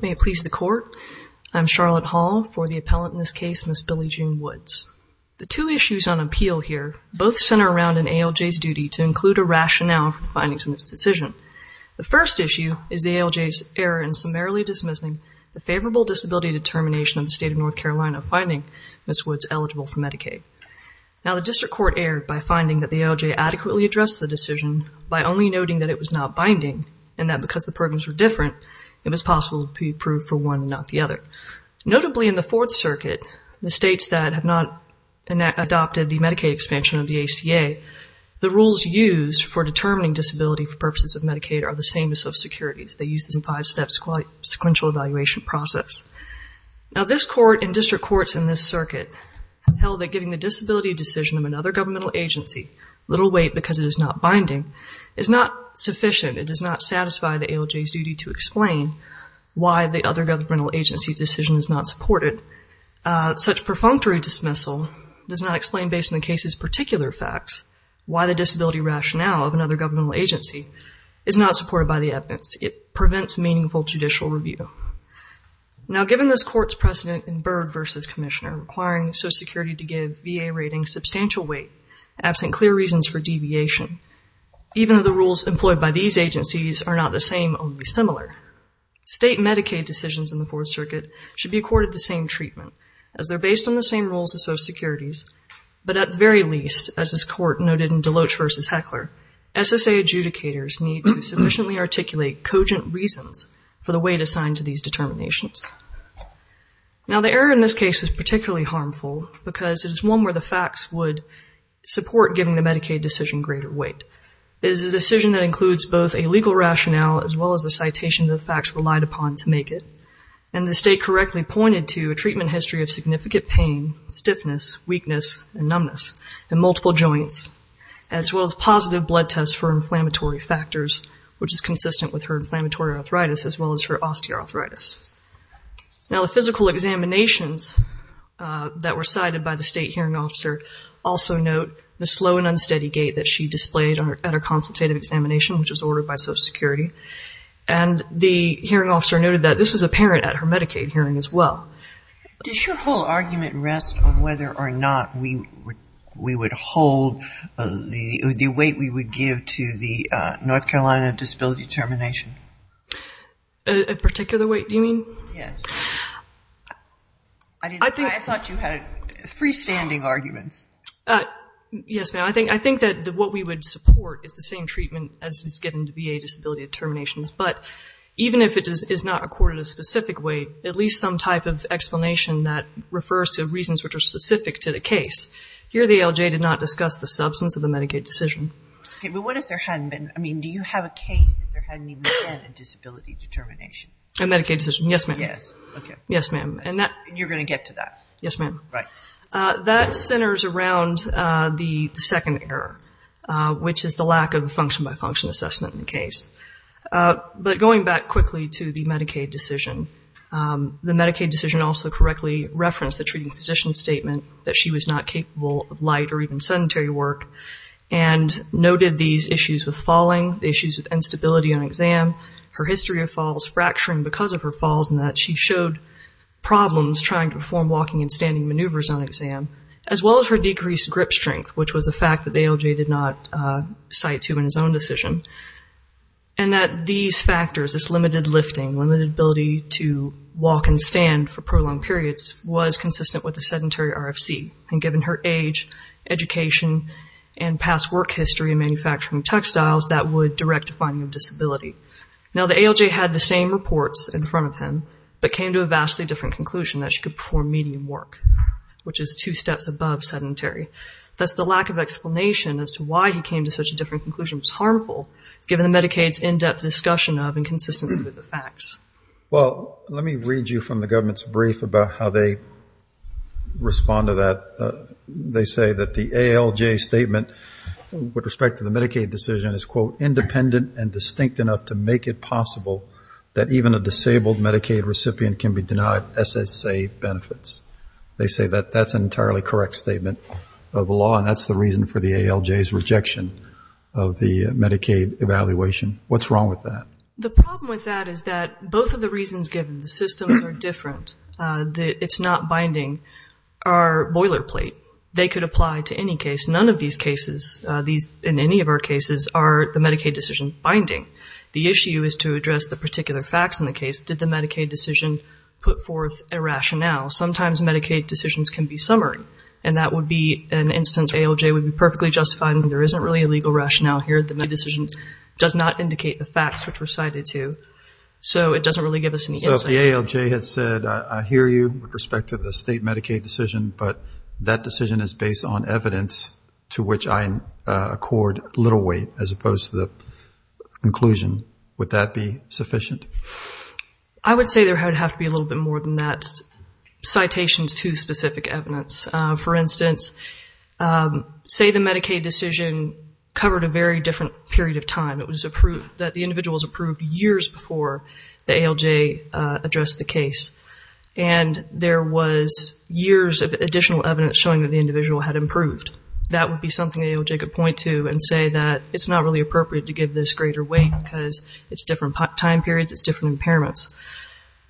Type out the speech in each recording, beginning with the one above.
May it please the Court, I am Charlotte Hall for the appellant in this case, Ms. Billie June Woods. The two issues on appeal here both center around an ALJ's duty to include a rationale for the findings in this decision. The first issue is the ALJ's error in summarily dismissing the favorable disability determination of the state of North Carolina finding Ms. Woods eligible for Medicaid. Now the District Court erred by finding that the ALJ adequately addressed the decision by only noting that it was not binding and that because the programs were different, it was possible to be approved for one and not the other. Notably in the Fourth Circuit, the states that have not adopted the Medicaid expansion of the ACA, the rules used for determining disability for purposes of Medicaid are the same as those of securities. They use the five-step sequential evaluation process. Now this Court and District Courts in this circuit have held that giving the disability decision of another governmental agency, little weight because it is not binding, is not sufficient. It does not satisfy the ALJ's duty to explain why the other governmental agency's decision is not supported. Such perfunctory dismissal does not explain based on the case's particular facts why the disability rationale of another governmental agency is not supported by the evidence. It prevents meaningful judicial review. Now given this Court's precedent in Byrd v. Commissioner requiring Social Security to give VA ratings substantial weight absent clear reasons for deviation, even though the reasons are probably similar, state Medicaid decisions in the Fourth Circuit should be accorded the same treatment as they're based on the same rules as Social Security's, but at the very least, as this Court noted in Deloach v. Heckler, SSA adjudicators need to sufficiently articulate cogent reasons for the weight assigned to these determinations. Now the error in this case is particularly harmful because it is one where the facts would support giving the Medicaid decision greater weight. It is a decision that includes both a legal rationale as well as a citation of the facts relied upon to make it. And the state correctly pointed to a treatment history of significant pain, stiffness, weakness, and numbness in multiple joints, as well as positive blood tests for inflammatory factors, which is consistent with her inflammatory arthritis as well as her osteoarthritis. Now the physical examinations that were cited by the state hearing officer also note the slow and unsteady gait that she displayed at her consultative examination, which was ordered by Social Security. And the hearing officer noted that this was apparent at her Medicaid hearing as well. Does your whole argument rest on whether or not we would hold the weight we would give to the North Carolina disability determination? A particular weight, do you mean? Yes. I thought you had freestanding arguments. Yes, ma'am. I think that what we would support is the same treatment as is given to VA disability determinations. But even if it is not accorded a specific weight, at least some type of explanation that refers to reasons which are specific to the case. Here the ALJ did not discuss the substance of the Medicaid decision. Okay, but what if there hadn't been, I mean, do you have a case if there hadn't even been a disability determination? A Medicaid decision, yes, ma'am. Yes, okay. Yes, ma'am. And you're going to get to that? Yes, ma'am. Right. That centers around the second error, which is the lack of a function-by-function assessment in the case. But going back quickly to the Medicaid decision, the Medicaid decision also correctly referenced the treating physician statement that she was not capable of light or even sedentary work and noted these issues with falling, issues with instability on exam, her history of falls, fracturing because of her falls, and that she showed problems trying to perform walking and standing maneuvers on exam, as well as her decreased grip strength, which was a fact that the ALJ did not cite to in his own decision, and that these factors, this limited lifting, limited ability to walk and stand for prolonged periods, was consistent with a sedentary RFC. And given her age, education, and past work history in manufacturing textiles, that would direct to finding a disability. Now the ALJ had the same reports in front of him, but came to a vastly different conclusion that she could perform medium work, which is two steps above sedentary. Thus the lack of explanation as to why he came to such a different conclusion was harmful, given the Medicaid's in-depth discussion of and consistency with the facts. Well let me read you from the government's brief about how they respond to that. They say that the ALJ statement with respect to the Medicaid decision is, quote, independent and distinct enough to make it possible that even a disabled Medicaid recipient can be They say that that's an entirely correct statement of the law, and that's the reason for the ALJ's rejection of the Medicaid evaluation. What's wrong with that? The problem with that is that both of the reasons given, the systems are different, it's not binding, are boilerplate. They could apply to any case. None of these cases, in any of our cases, are the Medicaid decision binding. The issue is to address the particular facts in the case. Did the Medicaid decision put forth a rationale? Sometimes Medicaid decisions can be summarized, and that would be an instance where the ALJ would be perfectly justified in saying there isn't really a legal rationale here. The Medicaid decision does not indicate the facts which were cited to. So it doesn't really give us any insight. So if the ALJ had said, I hear you with respect to the state Medicaid decision, but that decision is based on evidence to which I accord little weight, as opposed to the conclusion, would that be sufficient? I would say there would have to be a little bit more than that. Citations to specific evidence. For instance, say the Medicaid decision covered a very different period of time. It was approved, that the individual was approved years before the ALJ addressed the case, and there was years of additional evidence showing that the individual had improved. That would be something the ALJ could point to and say that it's not really appropriate to give this greater weight because it's different time periods, it's different impairments.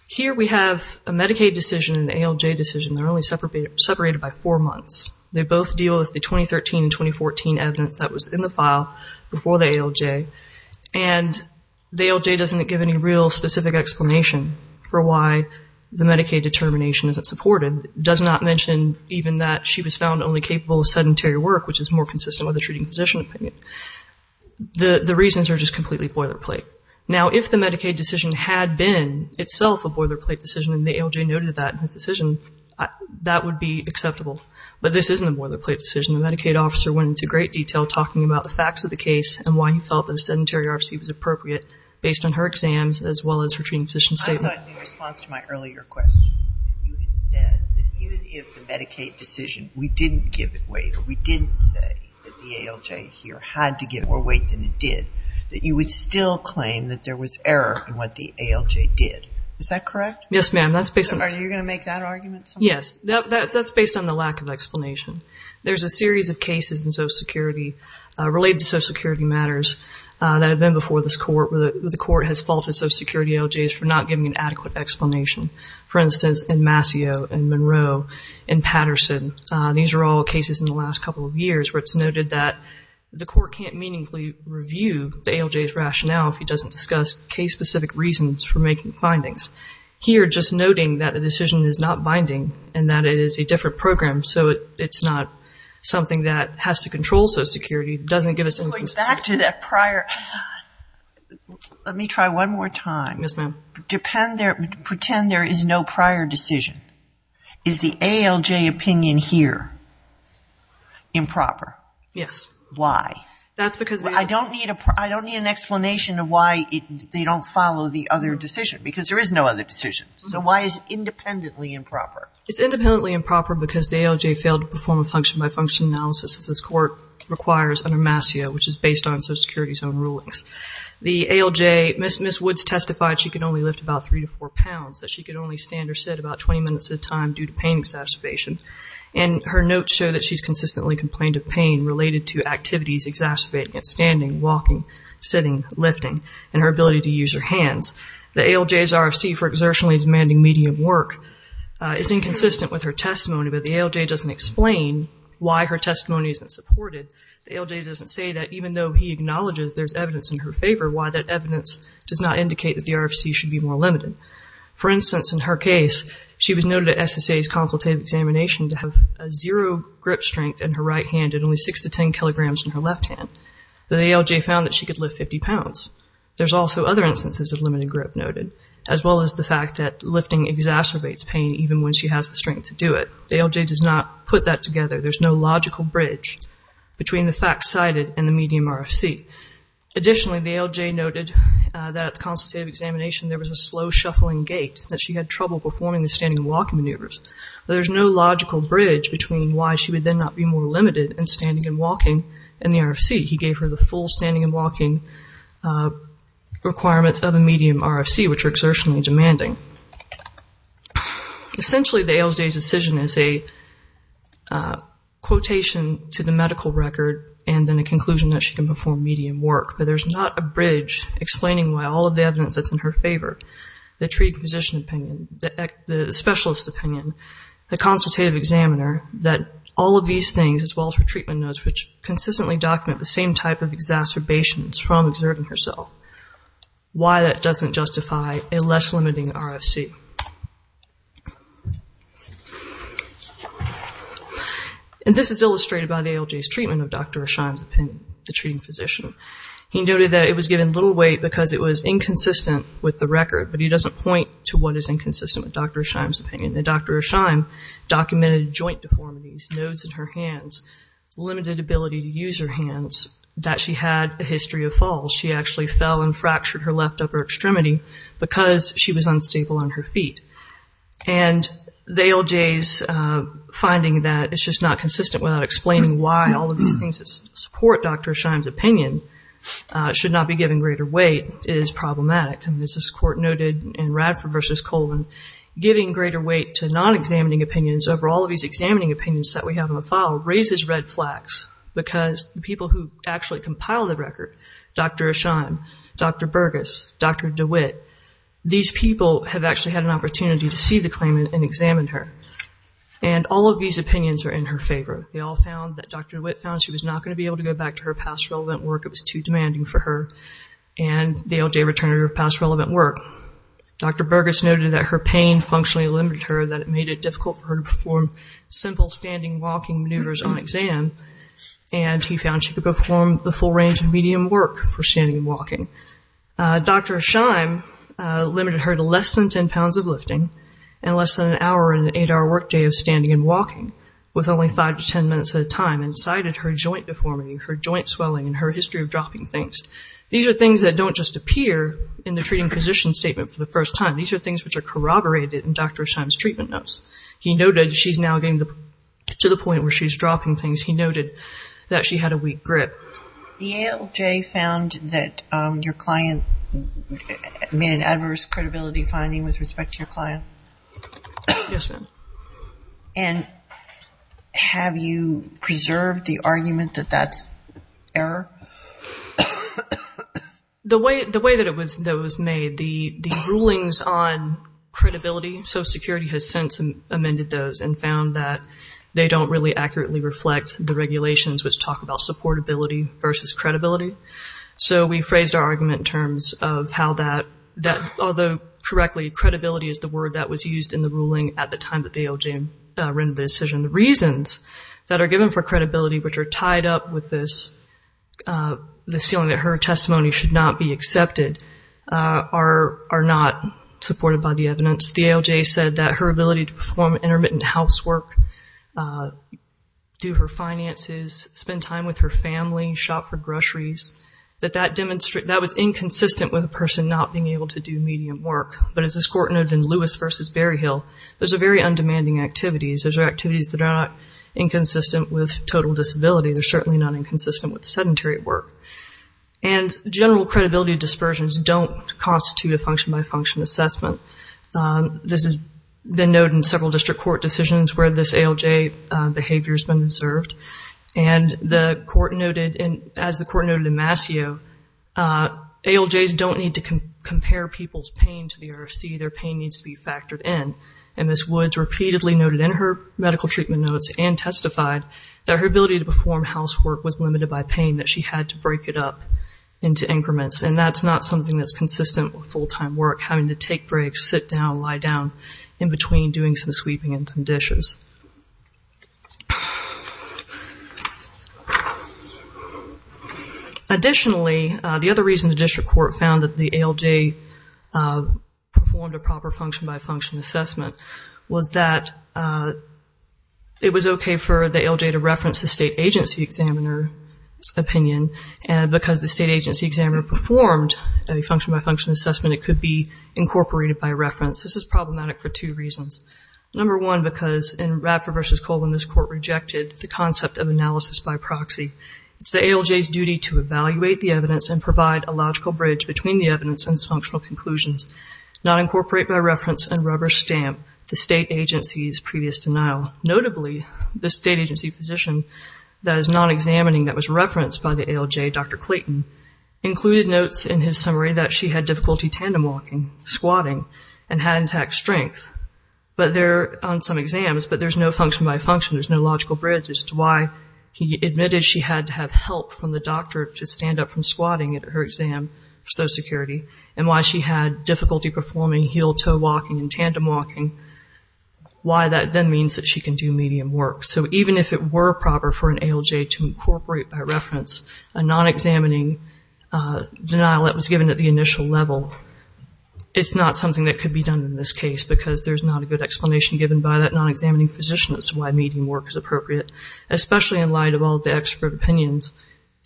Here we have a Medicaid decision and an ALJ decision that are only separated by four months. They both deal with the 2013 and 2014 evidence that was in the file before the ALJ, and the ALJ doesn't give any real specific explanation for why the Medicaid determination isn't supported. It does not mention even that she was found only capable of sedentary work, which is more The citations are just completely boilerplate. Now, if the Medicaid decision had been itself a boilerplate decision and the ALJ noted that in his decision, that would be acceptable. But this isn't a boilerplate decision. The Medicaid officer went into great detail talking about the facts of the case and why he felt that a sedentary RFC was appropriate based on her exams as well as her treating physician statement. I thought in response to my earlier question, you had said that even if the Medicaid decision, we didn't give it weight, or we didn't say that the ALJ here had to give more weight than it did, that you would still claim that there was error in what the ALJ did. Is that correct? Yes, ma'am. That's based on Are you going to make that argument? Yes. That's based on the lack of explanation. There's a series of cases in Social Security related to Social Security matters that have been before this court where the court has faulted Social Security ALJs for not giving an adequate explanation. For instance, in Masseau and Monroe and Patterson. These are all cases in the last couple of years where it's noted that the court can't meaningfully review the ALJ's rationale if he doesn't discuss case-specific reasons for making findings. Here, just noting that the decision is not binding and that it is a different program, so it's not something that has to control Social Security doesn't give us any consistency. Going back to that prior, let me try one more time. Yes, ma'am. Pretend there is no prior decision. Is the ALJ opinion here improper? Yes. Why? That's because I don't need an explanation of why they don't follow the other decision, because there is no other decision. So why is it independently improper? It's independently improper because the ALJ failed to perform a function-by-function analysis as this court requires under Masseau, which is based on Social Security's own rulings. The ALJ, Ms. Woods testified she could only lift about three to four pounds, that she could only stand or sit about 20 minutes at a time due to pain exacerbation, and her notes show that she's consistently complained of pain related to activities exacerbating it, standing, walking, sitting, lifting, and her ability to use her hands. The ALJ's RFC for exertionally demanding medium work is inconsistent with her testimony, but the ALJ doesn't explain why her testimony isn't supported. The ALJ doesn't say that even though he acknowledges there's evidence in her favor, why that evidence does not indicate that the RFC should be more limited. For instance, in her case, she was noted at SSA's consultative examination to have a zero grip strength in her right hand and only six to ten kilograms in her left hand. The ALJ found that she could lift 50 pounds. There's also other instances of limited grip noted, as well as the fact that lifting exacerbates pain even when she has the strength to do it. The ALJ does not put that together. There's no logical bridge between the facts cited and the medium RFC. Additionally, the ALJ noted that at the consultative examination there was a slow shuffling gait, that she had trouble performing the standing and walking maneuvers. There's no logical bridge between why she would then not be more limited in standing and walking and the RFC. He gave her the full standing and walking requirements of a medium RFC, which are exertionally demanding. Essentially, the ALJ's decision is a quotation to the medical record and then a conclusion that she can perform medium work, but there's not a bridge explaining why all of the evidence that's in her favor, the treating physician opinion, the specialist opinion, the consultative examiner, that all of these things, as well as her treatment notes, which consistently document the same type of exacerbations from exerting herself. Why that doesn't justify a less limiting RFC. This is illustrated by the ALJ's treatment of Dr. Ashaim's opinion, the treating physician. He noted that it was given little weight because it was inconsistent with the record, but he doesn't point to what is inconsistent with Dr. Ashaim's opinion. Dr. Ashaim documented joint deformities, nodes in her hands, limited ability to use her hands, that she had a history of falls. She actually fell and fractured her left upper extremity because she was unstable on her feet. And the ALJ's finding that it's just not consistent without explaining why all of these things that support Dr. Ashaim's opinion should not be given greater weight is problematic. And as this court noted in Radford v. Colvin, giving greater weight to non-examining opinions over all of these examining opinions that we have in the file raises red flags because the people who actually compiled the record, Dr. Ashaim, Dr. Burgess, Dr. DeWitt, these people have actually had an opportunity to see the claimant and examine her. And all of these opinions are in her favor. They all found that Dr. DeWitt found she was not going to be able to go back to her past relevant work. It was too demanding for her. And the ALJ returned her past relevant work. Dr. Burgess noted that her pain functionally limited her, that it made it difficult for her to perform simple standing, walking maneuvers on exam. And he found she could perform the full range of medium work for standing and walking. Dr. Ashaim limited her to less than 10 pounds of lifting and less than an hour in an eight-hour workday of standing and walking with only five to ten minutes at a time and cited her joint deformity, her joint swelling, and her history of dropping things. These are things that don't just appear in the treating physician's statement for the first time. These are things which are corroborated in Dr. Ashaim's treatment notes. He noted she's now getting to the point where she's dropping things. He noted that she had a weak grip. The ALJ found that your client made an adverse credibility finding with respect to your client? Yes, ma'am. And have you preserved the argument that that's error? No, ma'am. The way that it was made, the rulings on credibility, Social Security has since amended those and found that they don't really accurately reflect the regulations which talk about supportability versus credibility. So we phrased our argument in terms of how that, although correctly, credibility is the word that was used in the ruling at the time that the ALJ rendered the decision. The reasons that are given for credibility which are tied up with this feeling that her testimony should not be accepted are not supported by the evidence. The ALJ said that her ability to perform intermittent housework, do her finances, spend time with her family, shop for groceries, that that was inconsistent with a person not being able to do medium work. But as this court noted in Lewis v. Berryhill, those are very undemanding activities. Those are activities that are not inconsistent with total disability. They're certainly not inconsistent with sedentary work. And general credibility dispersions don't constitute a function-by-function assessment. This has been noted in several district court decisions where this ALJ behavior has been observed. And the court noted, as the court noted in Mascio, ALJs don't need to compare people's pain to the RFC. Their pain needs to be factored in. And Ms. Woods repeatedly noted in her medical treatment notes and testified that her ability to perform housework was limited by pain, that she had to break it up into increments. And that's not something that's consistent with full-time work, having to take breaks, sit down, lie down, in between doing some sweeping and some dishes. Additionally, the other reason the district court found that the ALJ performed a proper function-by-function assessment was that it was okay for the ALJ to reference the state agency examiner's opinion. And because the state agency examiner performed a function-by-function assessment, it could be incorporated by reference. This is problematic for two reasons. Number one, because in Radford v. Colvin, this court rejected the concept of analysis by proxy. It's the ALJ's duty to evaluate the evidence and provide a logical bridge between the evidence and its functional conclusions, not incorporate by reference and rubber stamp the state agency's previous denial. Notably, the state agency physician that is not examining that was referenced by the ALJ, Dr. Clayton, included notes in his summary that she had difficulty tandem walking, squatting, and had intact strength on some exams, but there's no function-by-function, there's no logical bridge as to why he admitted she had to have help from the doctor to stand up from squatting at her exam for Social Security, and why she had difficulty performing heel-toe walking and tandem walking, why that then means that she can do medium work. So even if it were proper for an ALJ to incorporate by reference a non-examining denial that was given at the initial level, it's not something that could be done in this case because there's not a good explanation given by that non-examining physician as to why medium work is appropriate, especially in light of all the expert opinions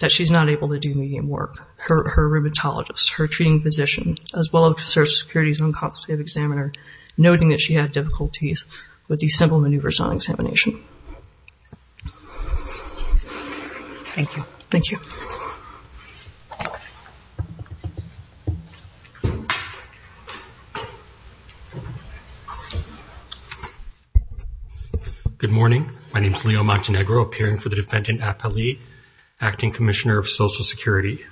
that she's not able to do medium work, her rheumatologist, her treating physician, as well as Social Security's non-consumptive examiner noting that she had difficulties with these simple maneuvers on examination. Thank you. Thank you. Good morning. My name is Leo Montenegro, appearing for the defendant, Appali, Acting Commissioner of Social Security.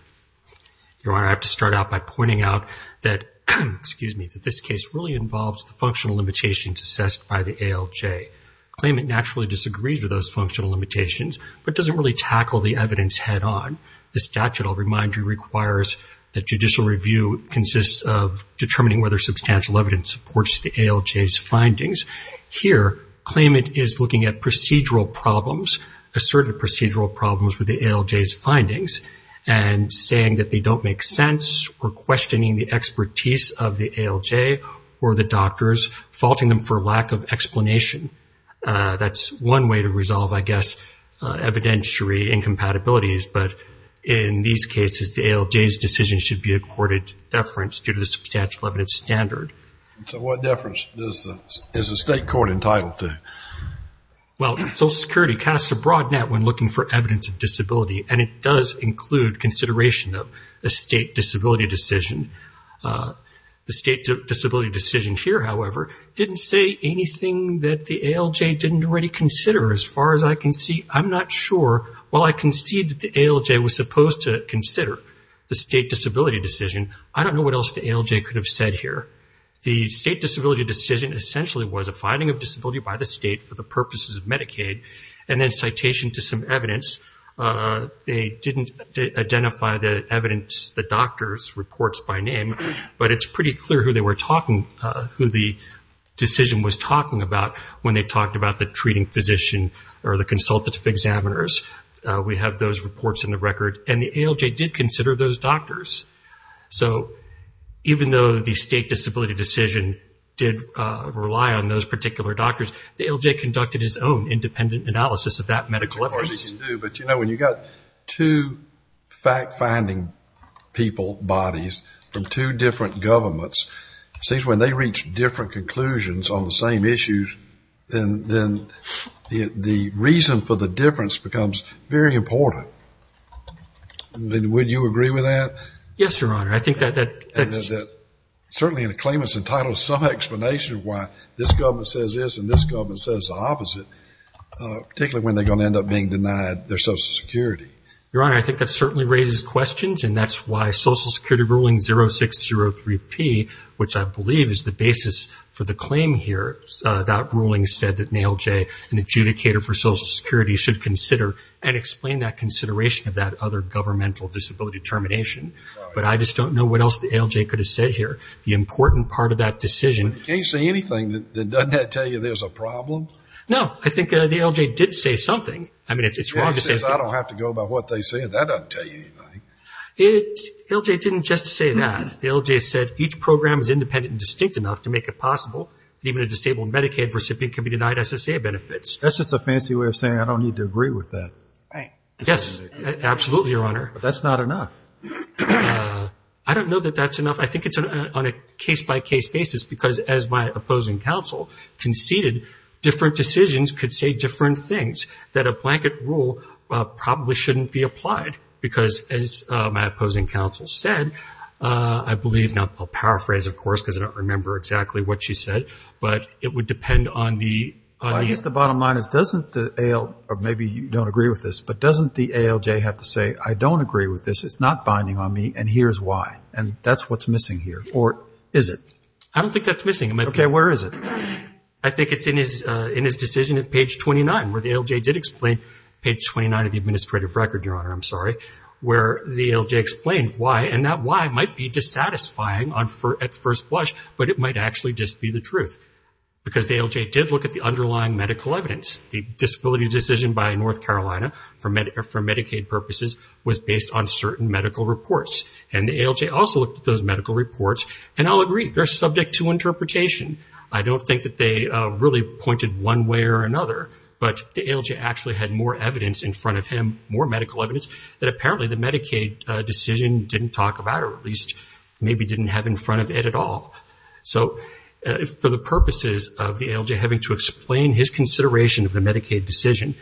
Your Honor, I have to start out by pointing out that this case really involves the functional limitations assessed by the ALJ. The claimant naturally disagrees with those functional limitations, but doesn't really tackle the evidence head-on. The statute that I'll remind you requires that judicial review consists of determining whether substantial evidence supports the ALJ's findings. Here, claimant is looking at procedural problems, asserted procedural problems with the ALJ's findings, and saying that they don't make sense or questioning the expertise of the ALJ or the doctors, faulting them for lack of explanation. That's one way to resolve, I guess, evidentiary incompatibilities, but in these cases, the ALJ's decision should be accorded deference due to the substantial evidence standard. So what deference is the state court entitled to? Well, Social Security casts a broad net when looking for evidence of disability, and it does include consideration of a state disability decision. The state disability decision here, however, didn't say anything that the ALJ didn't already consider. As far as I can see, I'm not sure. While I concede that the ALJ was supposed to consider the state disability decision, I don't know what else the ALJ could have said here. The state disability decision essentially was a finding of disability by the state for the purposes of Medicaid, and then citation to some evidence. They didn't identify the evidence, the doctor's reports by name, but it's pretty clear who they were talking, who the decision was talking about when they talked about the treating physician or the consultative examiners. We have those reports in the record, and the ALJ did consider those doctors. So even though the state disability decision did rely on those particular doctors, the ALJ conducted its own independent analysis of that medical evidence. But you know, when you've got two fact-finding people, bodies, from two different governments, it seems when they reach different conclusions on the same issues, then the reason for the difference becomes very important. Would you agree with that? Yes, Your Honor. I think that... Certainly a claimant's entitled to some explanation of why this government says this and this government says the opposite, particularly when they're going to end up being denied their Social Security. Your Honor, I think that certainly raises questions, and that's why Social Security ruling 0603P, which I believe is the basis for the claim here, that ruling said that an ALJ, an adjudicator for Social Security, should consider and explain that consideration of that other governmental disability determination. But I just don't know what else the ALJ could have said here. The important part of that decision... Can you say anything that doesn't tell you there's a problem? No. I think the ALJ did say something. I mean, it's wrong to say... I don't have to go by what they said. That doesn't tell you anything. It... ALJ didn't just say that. The ALJ said each program is independent and distinct enough to make it possible that even a disabled Medicaid recipient can be denied SSA benefits. That's just a fancy way of saying I don't need to agree with that. Right. Yes. Absolutely, Your Honor. That's not enough. I don't know that that's enough. I think it's on a case-by-case basis, because as my opposing counsel conceded, different decisions could say different things that a blanket rule probably shouldn't be applied, because as my opposing counsel said, I believe... Now, I'll paraphrase, of course, because I don't remember exactly what she said, but it would depend on the... Well, I guess the bottom line is doesn't the AL... Or maybe you don't agree with this, but doesn't the ALJ have to say, I don't agree with this. It's not binding on me, and here's why. And that's what's missing here. Or is it? I don't think that's missing. Okay. Where is it? I think it's in his decision at page 29, where the ALJ did explain page 29 of the Administrative Record, Your Honor, I'm sorry, where the ALJ explained why, and that why might be dissatisfying at first blush, but it might actually just be the truth, because the ALJ did look at the underlying medical evidence. The disability decision by North Carolina for Medicaid purposes was based on certain medical reports, and the ALJ also looked at those medical reports, and I'll agree, they're subject to interpretation. I don't think that they really pointed one way or another, but the ALJ actually had more evidence in front of him, more medical evidence, that apparently the Medicaid decision didn't talk about, or at least maybe didn't have in front of it at all. So for the purposes of the ALJ having to explain his consideration of the Medicaid decision,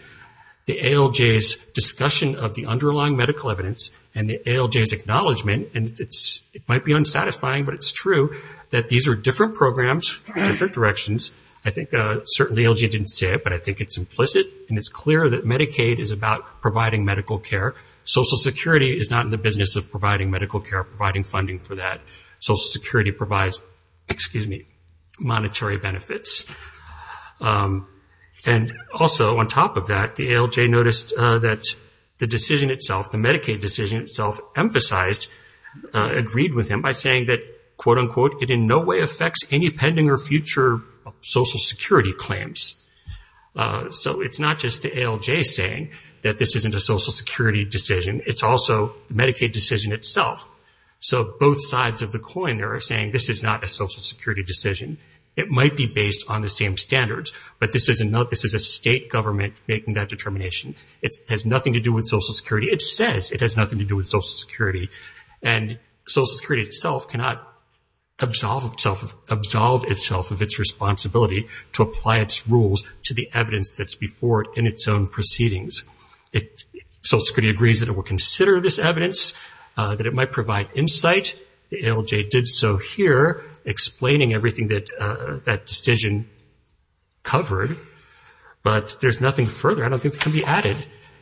the ALJ's discussion of the underlying medical evidence and the ALJ's acknowledgement, and it might be unsatisfying, but it's true, that these are different programs, different directions. I think certainly ALJ didn't say it, but I think it's implicit, and it's clear that Medicaid is about providing medical care. Social Security is not in the business of providing medical care, providing funding for that. Social Security provides, excuse me, monetary benefits. And also, on top of that, the ALJ noticed that the decision itself, the Medicaid decision itself, emphasized, agreed with him by saying that, quote unquote, it in no way affects any pending or future Social Security claims. So it's not just the ALJ saying that this isn't a Social Security decision. It's also the Medicaid decision itself. So both sides of the coin there are saying this is not a Social Security decision. It might be based on the same standards, but this is a state government making that determination. It has nothing to do with Social Security. It says it has nothing to do with Social Security, and Social Security itself cannot absolve itself of its responsibility to apply its rules to the evidence that's before it in its own proceedings. Social Security agrees that it will consider this evidence, that it might provide insight. The ALJ did so here, explaining everything that that decision covered, but there's nothing further. I don't think it can be added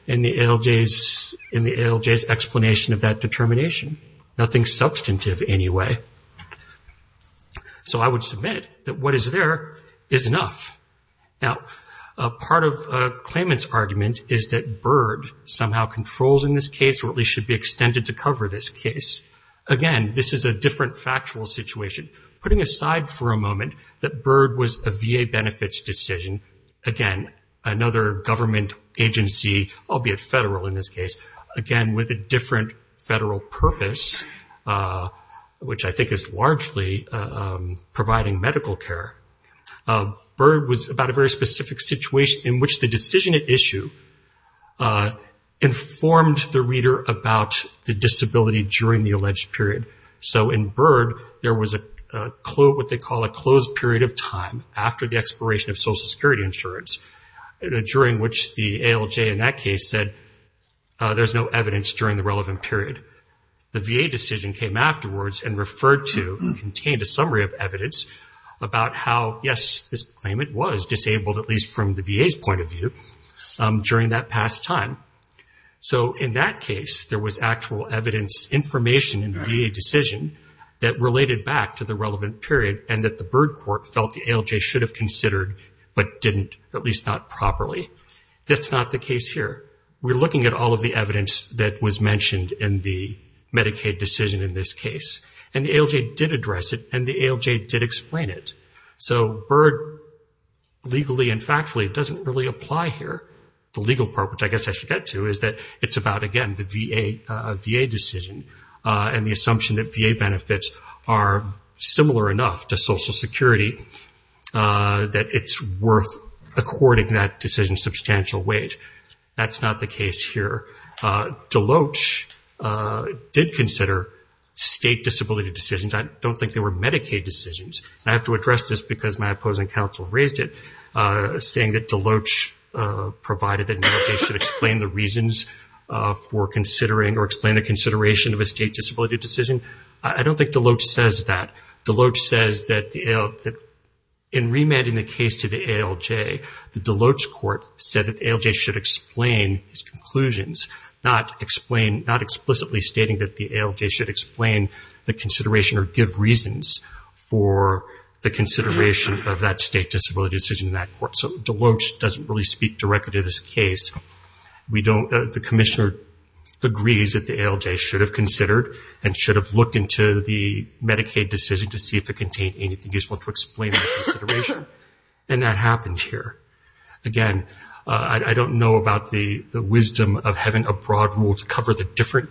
in the ALJ's explanation of that determination. Nothing substantive anyway. So I would submit that what is there is enough. Now, part of Klayman's argument is that BIRD somehow controls in this case, or at least should be extended to cover this case. Again, this is a different factual situation. Putting aside for a moment that BIRD was a VA benefits decision, again, another government agency, albeit federal in this case, again, with a different federal purpose, which I think is largely providing medical care. BIRD was about a very specific situation in which the decision at issue informed the reader about the disability during the alleged period. So in BIRD, there was a what they call a closed period of time after the expiration of Social Security insurance, during which the ALJ in that case said there's no evidence during the relevant period. The VA decision came afterwards and referred to and contained a summary of evidence about how, yes, this claimant was disabled, at least from the VA's point of view, during that past time. So in that case, there was actual evidence, information in the VA decision that related back to the relevant period and that the BIRD court felt the ALJ should have considered, but didn't, at least not properly. That's not the case here. We're looking at all of the evidence that was mentioned in the Medicaid decision in this case, and the ALJ did address it, and the ALJ did explain it. So BIRD legally and factually doesn't really apply here. The legal part, which I guess I should get to, is that it's about, again, the VA decision and the assumption that VA benefits are similar enough to Social Security that it's worth, according to that decision, substantial wage. That's not the case here. Deloach did consider state disability decisions. I don't think they were Medicaid decisions. I have to address this because my opposing counsel raised it, saying that Deloach provided that consideration of a state disability decision. I don't think Deloach says that. Deloach says that in remanding the case to the ALJ, the Deloach court said that the ALJ should explain his conclusions, not explicitly stating that the ALJ should explain the consideration or give reasons for the consideration of that state disability decision in that court. So Deloach doesn't really speak directly to this case. The commissioner agrees that the ALJ should have considered and should have looked into the Medicaid decision to see if it contained anything useful to explain that consideration, and that happened here. Again, I don't know about the wisdom of having a broad rule to cover the different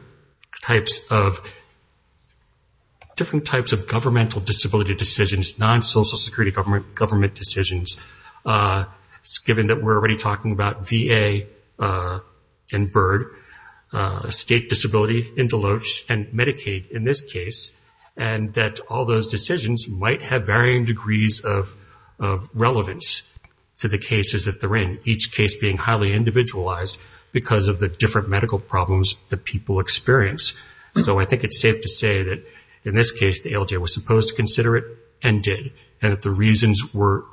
types of governmental disability decisions, non-social security government decisions, given that we're already talking about VA and BIRD, state disability in Deloach, and Medicaid in this case, and that all those decisions might have varying degrees of relevance to the cases that they're in, each case being highly individualized because of the different medical problems that people experience. So I think it's safe to say that in this case, the ALJ was supposed to consider it and did, and that the reasons were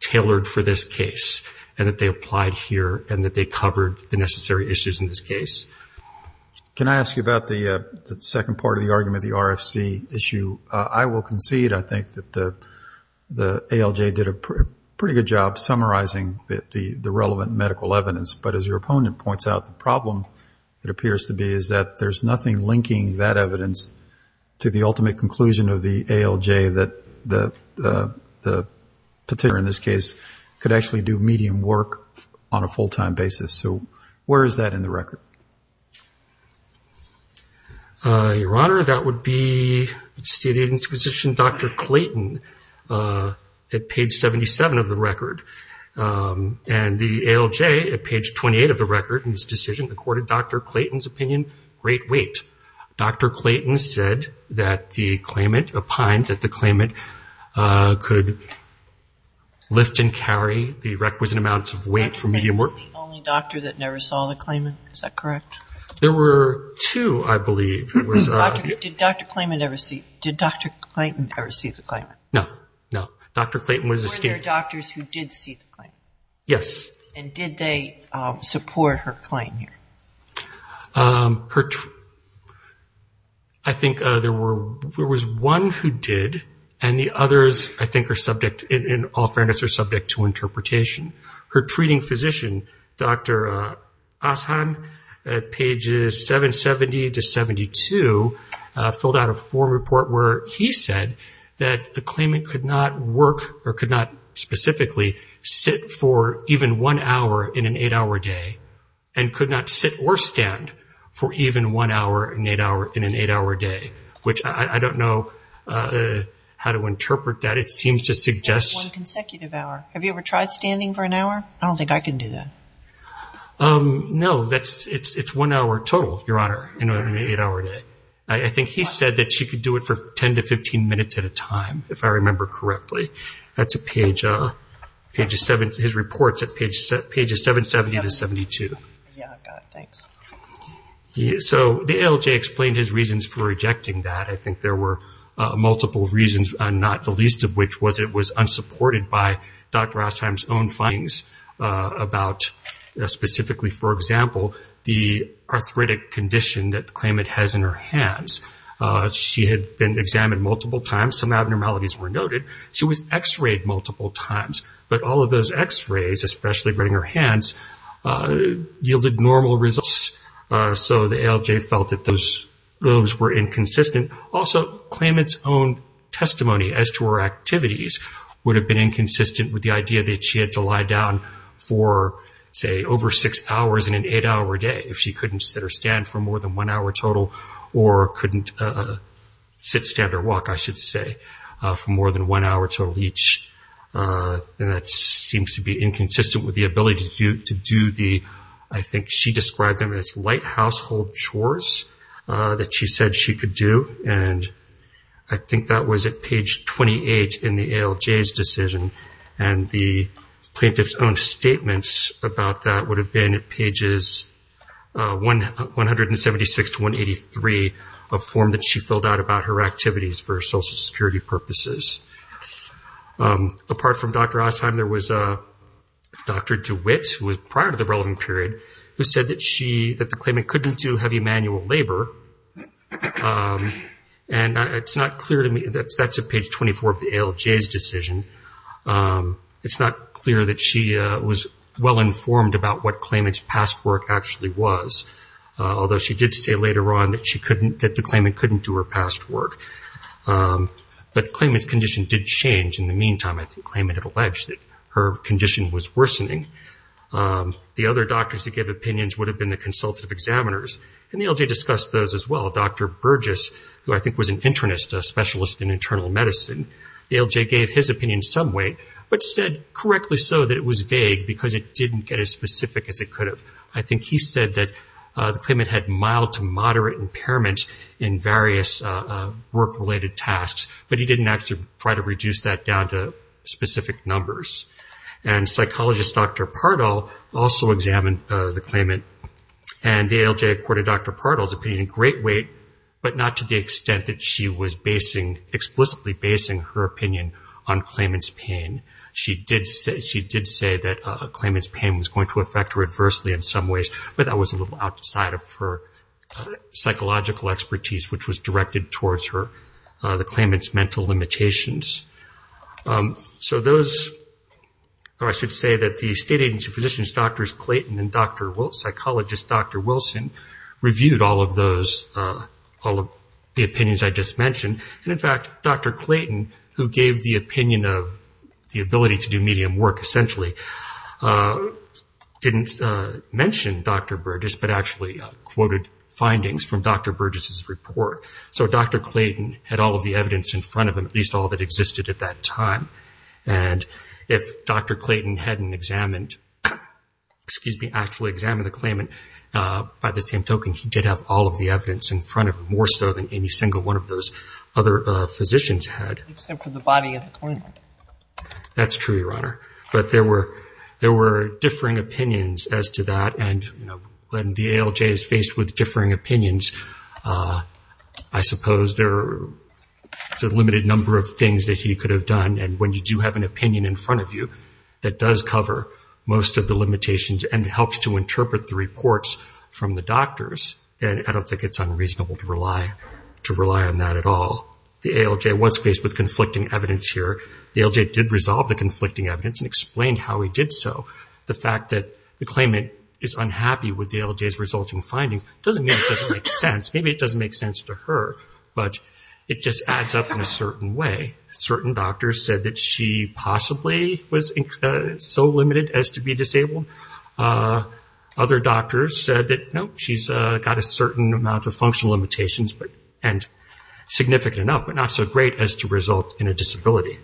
tailored for this case, and that they applied here, and that they covered the necessary issues in this case. Can I ask you about the second part of the argument, the RFC issue? I will concede, I think, that the ALJ did a pretty good job summarizing the relevant medical evidence, but as your opponent points out, the problem it appears to be is that there's nothing linking that evidence to the ultimate conclusion of the ALJ that the petitioner in this case could actually do medium work on a full-time basis. So where is that in the record? Your Honor, that would be State Agent's position, Dr. Clayton, at page 77 of the record, and the ALJ at page 28 of the record in this decision accorded Dr. Clayton's opinion, great weight. Dr. Clayton said that the claimant, opined that the claimant could lift and carry the requisite amount of weight for medium work. Was he the only doctor that never saw the claimant? Is that correct? There were two, I believe. Did Dr. Clayton ever see the claimant? No, no. Dr. Clayton was the State... Were there doctors who did see the claimant? Yes. And did they support her claim here? I think there was one who did, and the others, I think, in all fairness, are subject to interpretation. Her treating physician, Dr. Ashan, at pages 770 to 772, filled out a form report where he said that the claimant could not work or could not specifically sit for even one hour in an eight-hour day and could not sit or stand for even one hour in an eight-hour day, which I don't know how to interpret that. It seems to suggest... One consecutive hour. Have you ever tried standing for an hour? I don't think I can do that. No, it's one hour total, Your Honor, in an eight-hour day. I think he said that she could do it for 10 to 15 minutes at a time, if I remember correctly. That's at page... His report's at pages 770 to 772. Yeah, got it. Thanks. So the ALJ explained his reasons for rejecting that. I think there were multiple reasons, not the least of which was it was unsupported by Dr. Ashan's own findings about specifically, for example, the arthritic condition that the claimant has in her hands. She had been examined multiple times. Some abnormalities were noted. She was x-rayed multiple times, but all of those x-rays, especially reading her hands, yielded normal results. So the ALJ felt that those were inconsistent. Also, claimant's own testimony as to her activities would have been inconsistent with the idea that she had to lie down for, say, over six hours in an eight-hour day if she couldn't sit or stand for more than one hour total, or couldn't sit, stand, or walk, I should say, for more than one hour total each. And that seems to be inconsistent with the ability to do the, I think she described them as, light household chores that she said she could do. And I think that was at page 28 in the ALJ's decision. And the plaintiff's own statements about that would have been at pages 176 to 183, a form that she filled out about her activities for Social Security purposes. Apart from Dr. Osheim, there was Dr. DeWitt, who was prior to the relevant period, who said that the claimant couldn't do heavy manual labor. And it's not clear to me, that's at page 24 of the ALJ's decision, it's not clear that she was well-informed about what claimant's past work actually was, although she did say later on that the claimant couldn't do her past work. But the claimant's condition did change in the meantime. I think the claimant had alleged that her condition was worsening. The other doctors that gave opinions would have been the consultative examiners, and the ALJ discussed those as well. Dr. Burgess, who I think was an internist, a specialist in internal medicine, the ALJ gave his opinion some way, but said correctly so that was vague because it didn't get as specific as it could have. I think he said that the claimant had mild to moderate impairment in various work-related tasks, but he didn't actually try to reduce that down to specific numbers. And psychologist Dr. Pardall also examined the claimant, and the ALJ accorded Dr. Pardall's opinion great weight, but not to the extent that she was explicitly basing her opinion on claimant's pain. She did say that a claimant's pain was going to affect her adversely in some ways, but that was a little outside of her psychological expertise, which was directed towards the claimant's mental limitations. So those, or I should say that the state agency physicians, Drs. Clayton and psychologist Dr. Pardall, the opinions I just mentioned, and in fact Dr. Clayton, who gave the opinion of the ability to do medium work essentially, didn't mention Dr. Burgess, but actually quoted findings from Dr. Burgess's report. So Dr. Clayton had all of the evidence in front of him, at least all that existed at that time. And if Dr. Clayton hadn't examined, excuse me, actually examined the any single one of those other physicians had. Except for the body of the claimant. That's true, Your Honor. But there were differing opinions as to that, and when the ALJ is faced with differing opinions, I suppose there's a limited number of things that he could have done. And when you do have an opinion in front of you that does cover most of the limitations and helps to interpret the reports from the doctors, I don't think it's unreasonable to rely on that at all. The ALJ was faced with conflicting evidence here. The ALJ did resolve the conflicting evidence and explained how he did so. The fact that the claimant is unhappy with the ALJ's resulting findings doesn't mean it doesn't make sense. Maybe it doesn't make sense to her, but it just adds up in a certain way. Certain doctors said that she possibly was so limited as to be disabled. Other doctors said that, nope, she's got a certain amount of functional limitations, significant enough, but not so great as to result in a disability.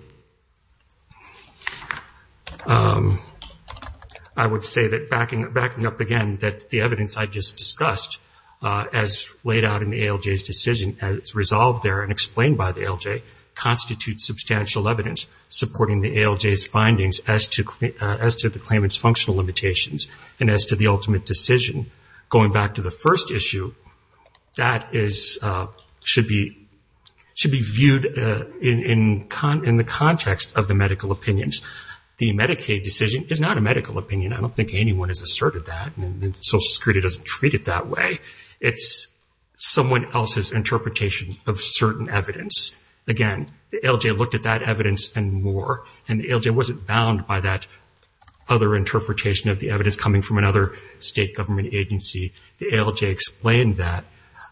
I would say that, backing up again, that the evidence I just discussed, as laid out in the ALJ's decision, as resolved there and explained by the ALJ, constitutes substantial evidence supporting the ALJ's findings as to the claimant's ultimate decision. Going back to the first issue, that should be viewed in the context of the medical opinions. The Medicaid decision is not a medical opinion. I don't think anyone has asserted that. Social Security doesn't treat it that way. It's someone else's interpretation of certain evidence. Again, the ALJ looked at that evidence and more, and the ALJ wasn't bound by that other interpretation of the evidence coming from another state government agency. The ALJ explained that.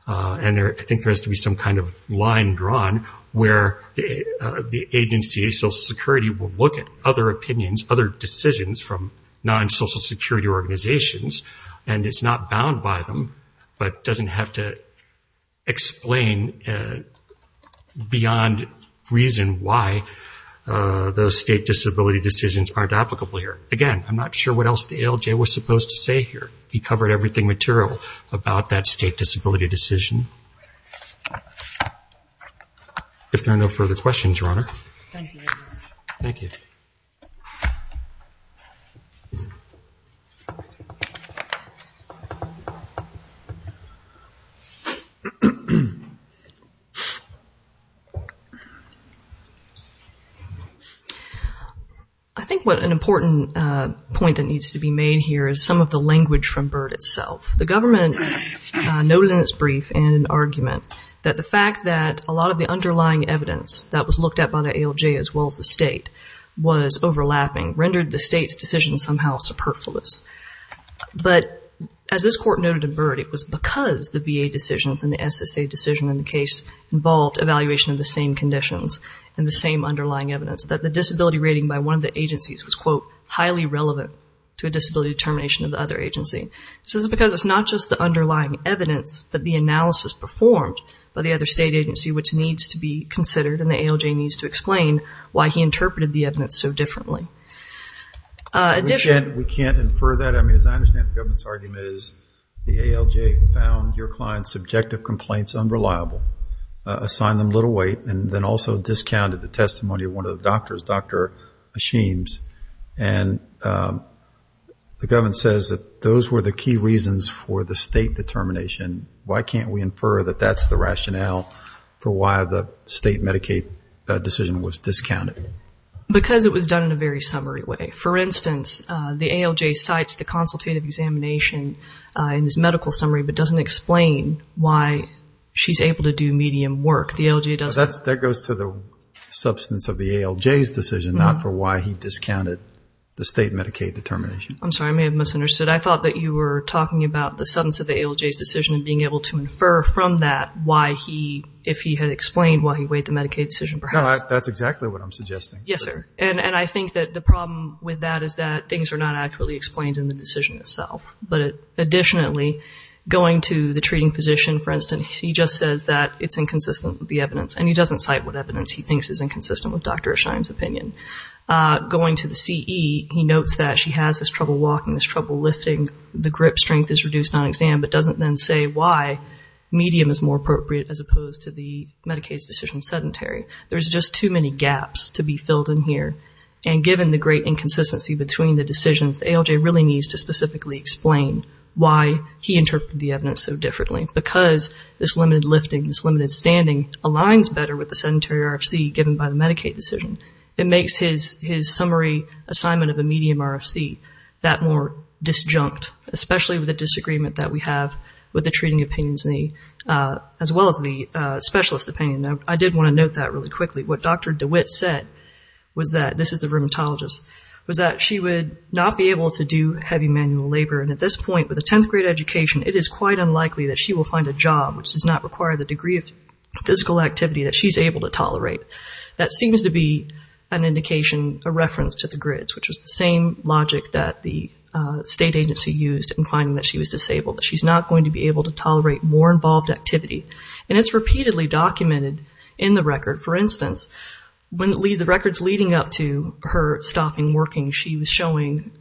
I think there has to be some kind of line drawn where the agency, Social Security, will look at other opinions, other decisions from non-Social Security organizations. It's not bound by them, but doesn't have to explain beyond reason why those state disability decisions aren't applicable here. Again, I'm not sure what else the ALJ was supposed to say here. He covered everything material about that state disability decision. If there are no further questions, I'm going to move on to the next issue. I think an important point that needs to be made here is some of the language from BIRD itself. The government noted in its brief in an argument that the fact that a lot of the underlying evidence that was looked at by the ALJ as well as the state was overlapping rendered the state's decision somehow superfluous. But as this court noted in BIRD, it was because the VA decisions and the SSA decision in the case involved evaluation of the same conditions and the same underlying evidence that the disability rating by one of the agencies was, quote, highly relevant to a disability determination of the other agency. This is because it's not just the underlying evidence that the analysis performed by the other state agency which needs to be considered and the ALJ needs to explain why he interpreted the evidence so differently. We can't infer that. I mean, as I understand the government's argument is the ALJ found your client's subjective complaints unreliable, assigned them little weight, and then also discounted the testimony of one of the doctors, Dr. Ashims. And the government says that those were the key reasons for the state determination. Why can't we infer that that's the rationale for why the state Medicaid decision was discounted? Because it was done in a very summary way. For instance, the ALJ cites the consultative examination in his medical summary but doesn't explain why she's able to do medium work. The ALJ goes to the substance of the ALJ's decision, not for why he discounted the state Medicaid determination. I'm sorry, I may have misunderstood. I thought that you were talking about the substance of the ALJ's decision and being able to infer from that why he, if he had explained why he weighed the Medicaid decision perhaps. No, that's exactly what I'm suggesting. Yes, sir. And I think that the problem with that is that things are not actually explained in the decision itself. But additionally, going to the treating physician, for instance, he just says that it's inconsistent with the evidence. And he doesn't cite what evidence he thinks is inconsistent with Dr. Ashims' opinion. Going to the CE, he notes that she has this trouble walking, this trouble lifting, the grip strength is reduced on exam, but doesn't then say why medium is more appropriate as opposed to the Medicaid's decision sedentary. There's just too many gaps to be filled in here. And given the great inconsistency between the decisions, the ALJ really needs to specifically explain why he this limited standing aligns better with the sedentary RFC given by the Medicaid decision. It makes his summary assignment of a medium RFC that more disjunct, especially with the disagreement that we have with the treating opinions as well as the specialist opinion. I did want to note that really quickly. What Dr. DeWitt said was that, this is the rheumatologist, was that she would not be able to do heavy manual labor. And at this point with a 10th grade education, it is quite unlikely that she will find a job which does not require the degree of physical activity that she's able to tolerate. That seems to be an indication, a reference to the grids, which was the same logic that the state agency used in finding that she was disabled. She's not going to be able to tolerate more involved activity. And it's repeatedly documented in the record. For instance, when the records leading up to her stopping working, she was showing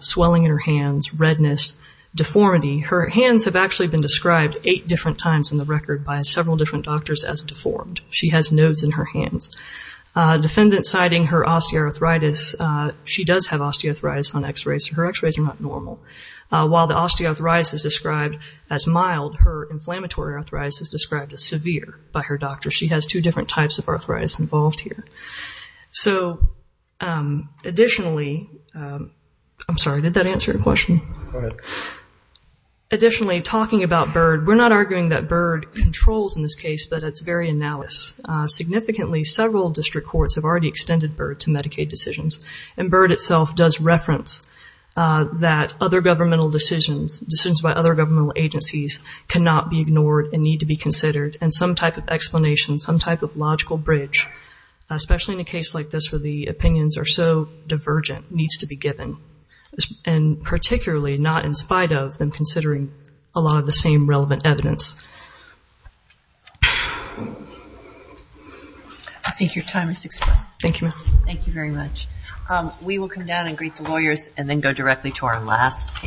swelling in her hands, redness, deformity. Her hands have actually been described eight different times in the record by several different doctors as deformed. She has nodes in her hands. Defendant citing her osteoarthritis, she does have osteoarthritis on x-rays. Her x-rays are not normal. While the osteoarthritis is described as mild, her inflammatory arthritis is described as severe by her doctor. She has two different types of arthritis involved here. So, additionally, I'm sorry, did that answer your question? Additionally, talking about BIRD, we're not arguing that BIRD controls in this case, but it's very analysis. Significantly, several district courts have already extended BIRD to Medicaid decisions. And BIRD itself does reference that other governmental decisions, decisions by other governmental agencies cannot be ignored and need to be considered. And some type of explanation, some type of logical bridge, especially in a case like this where the opinions are so divergent, needs to be given. And particularly not in spite of them considering a lot of the same relevant evidence. I think your time has expired. Thank you, ma'am. Thank you very much. We will come down and greet the lawyers and then go directly to our last case.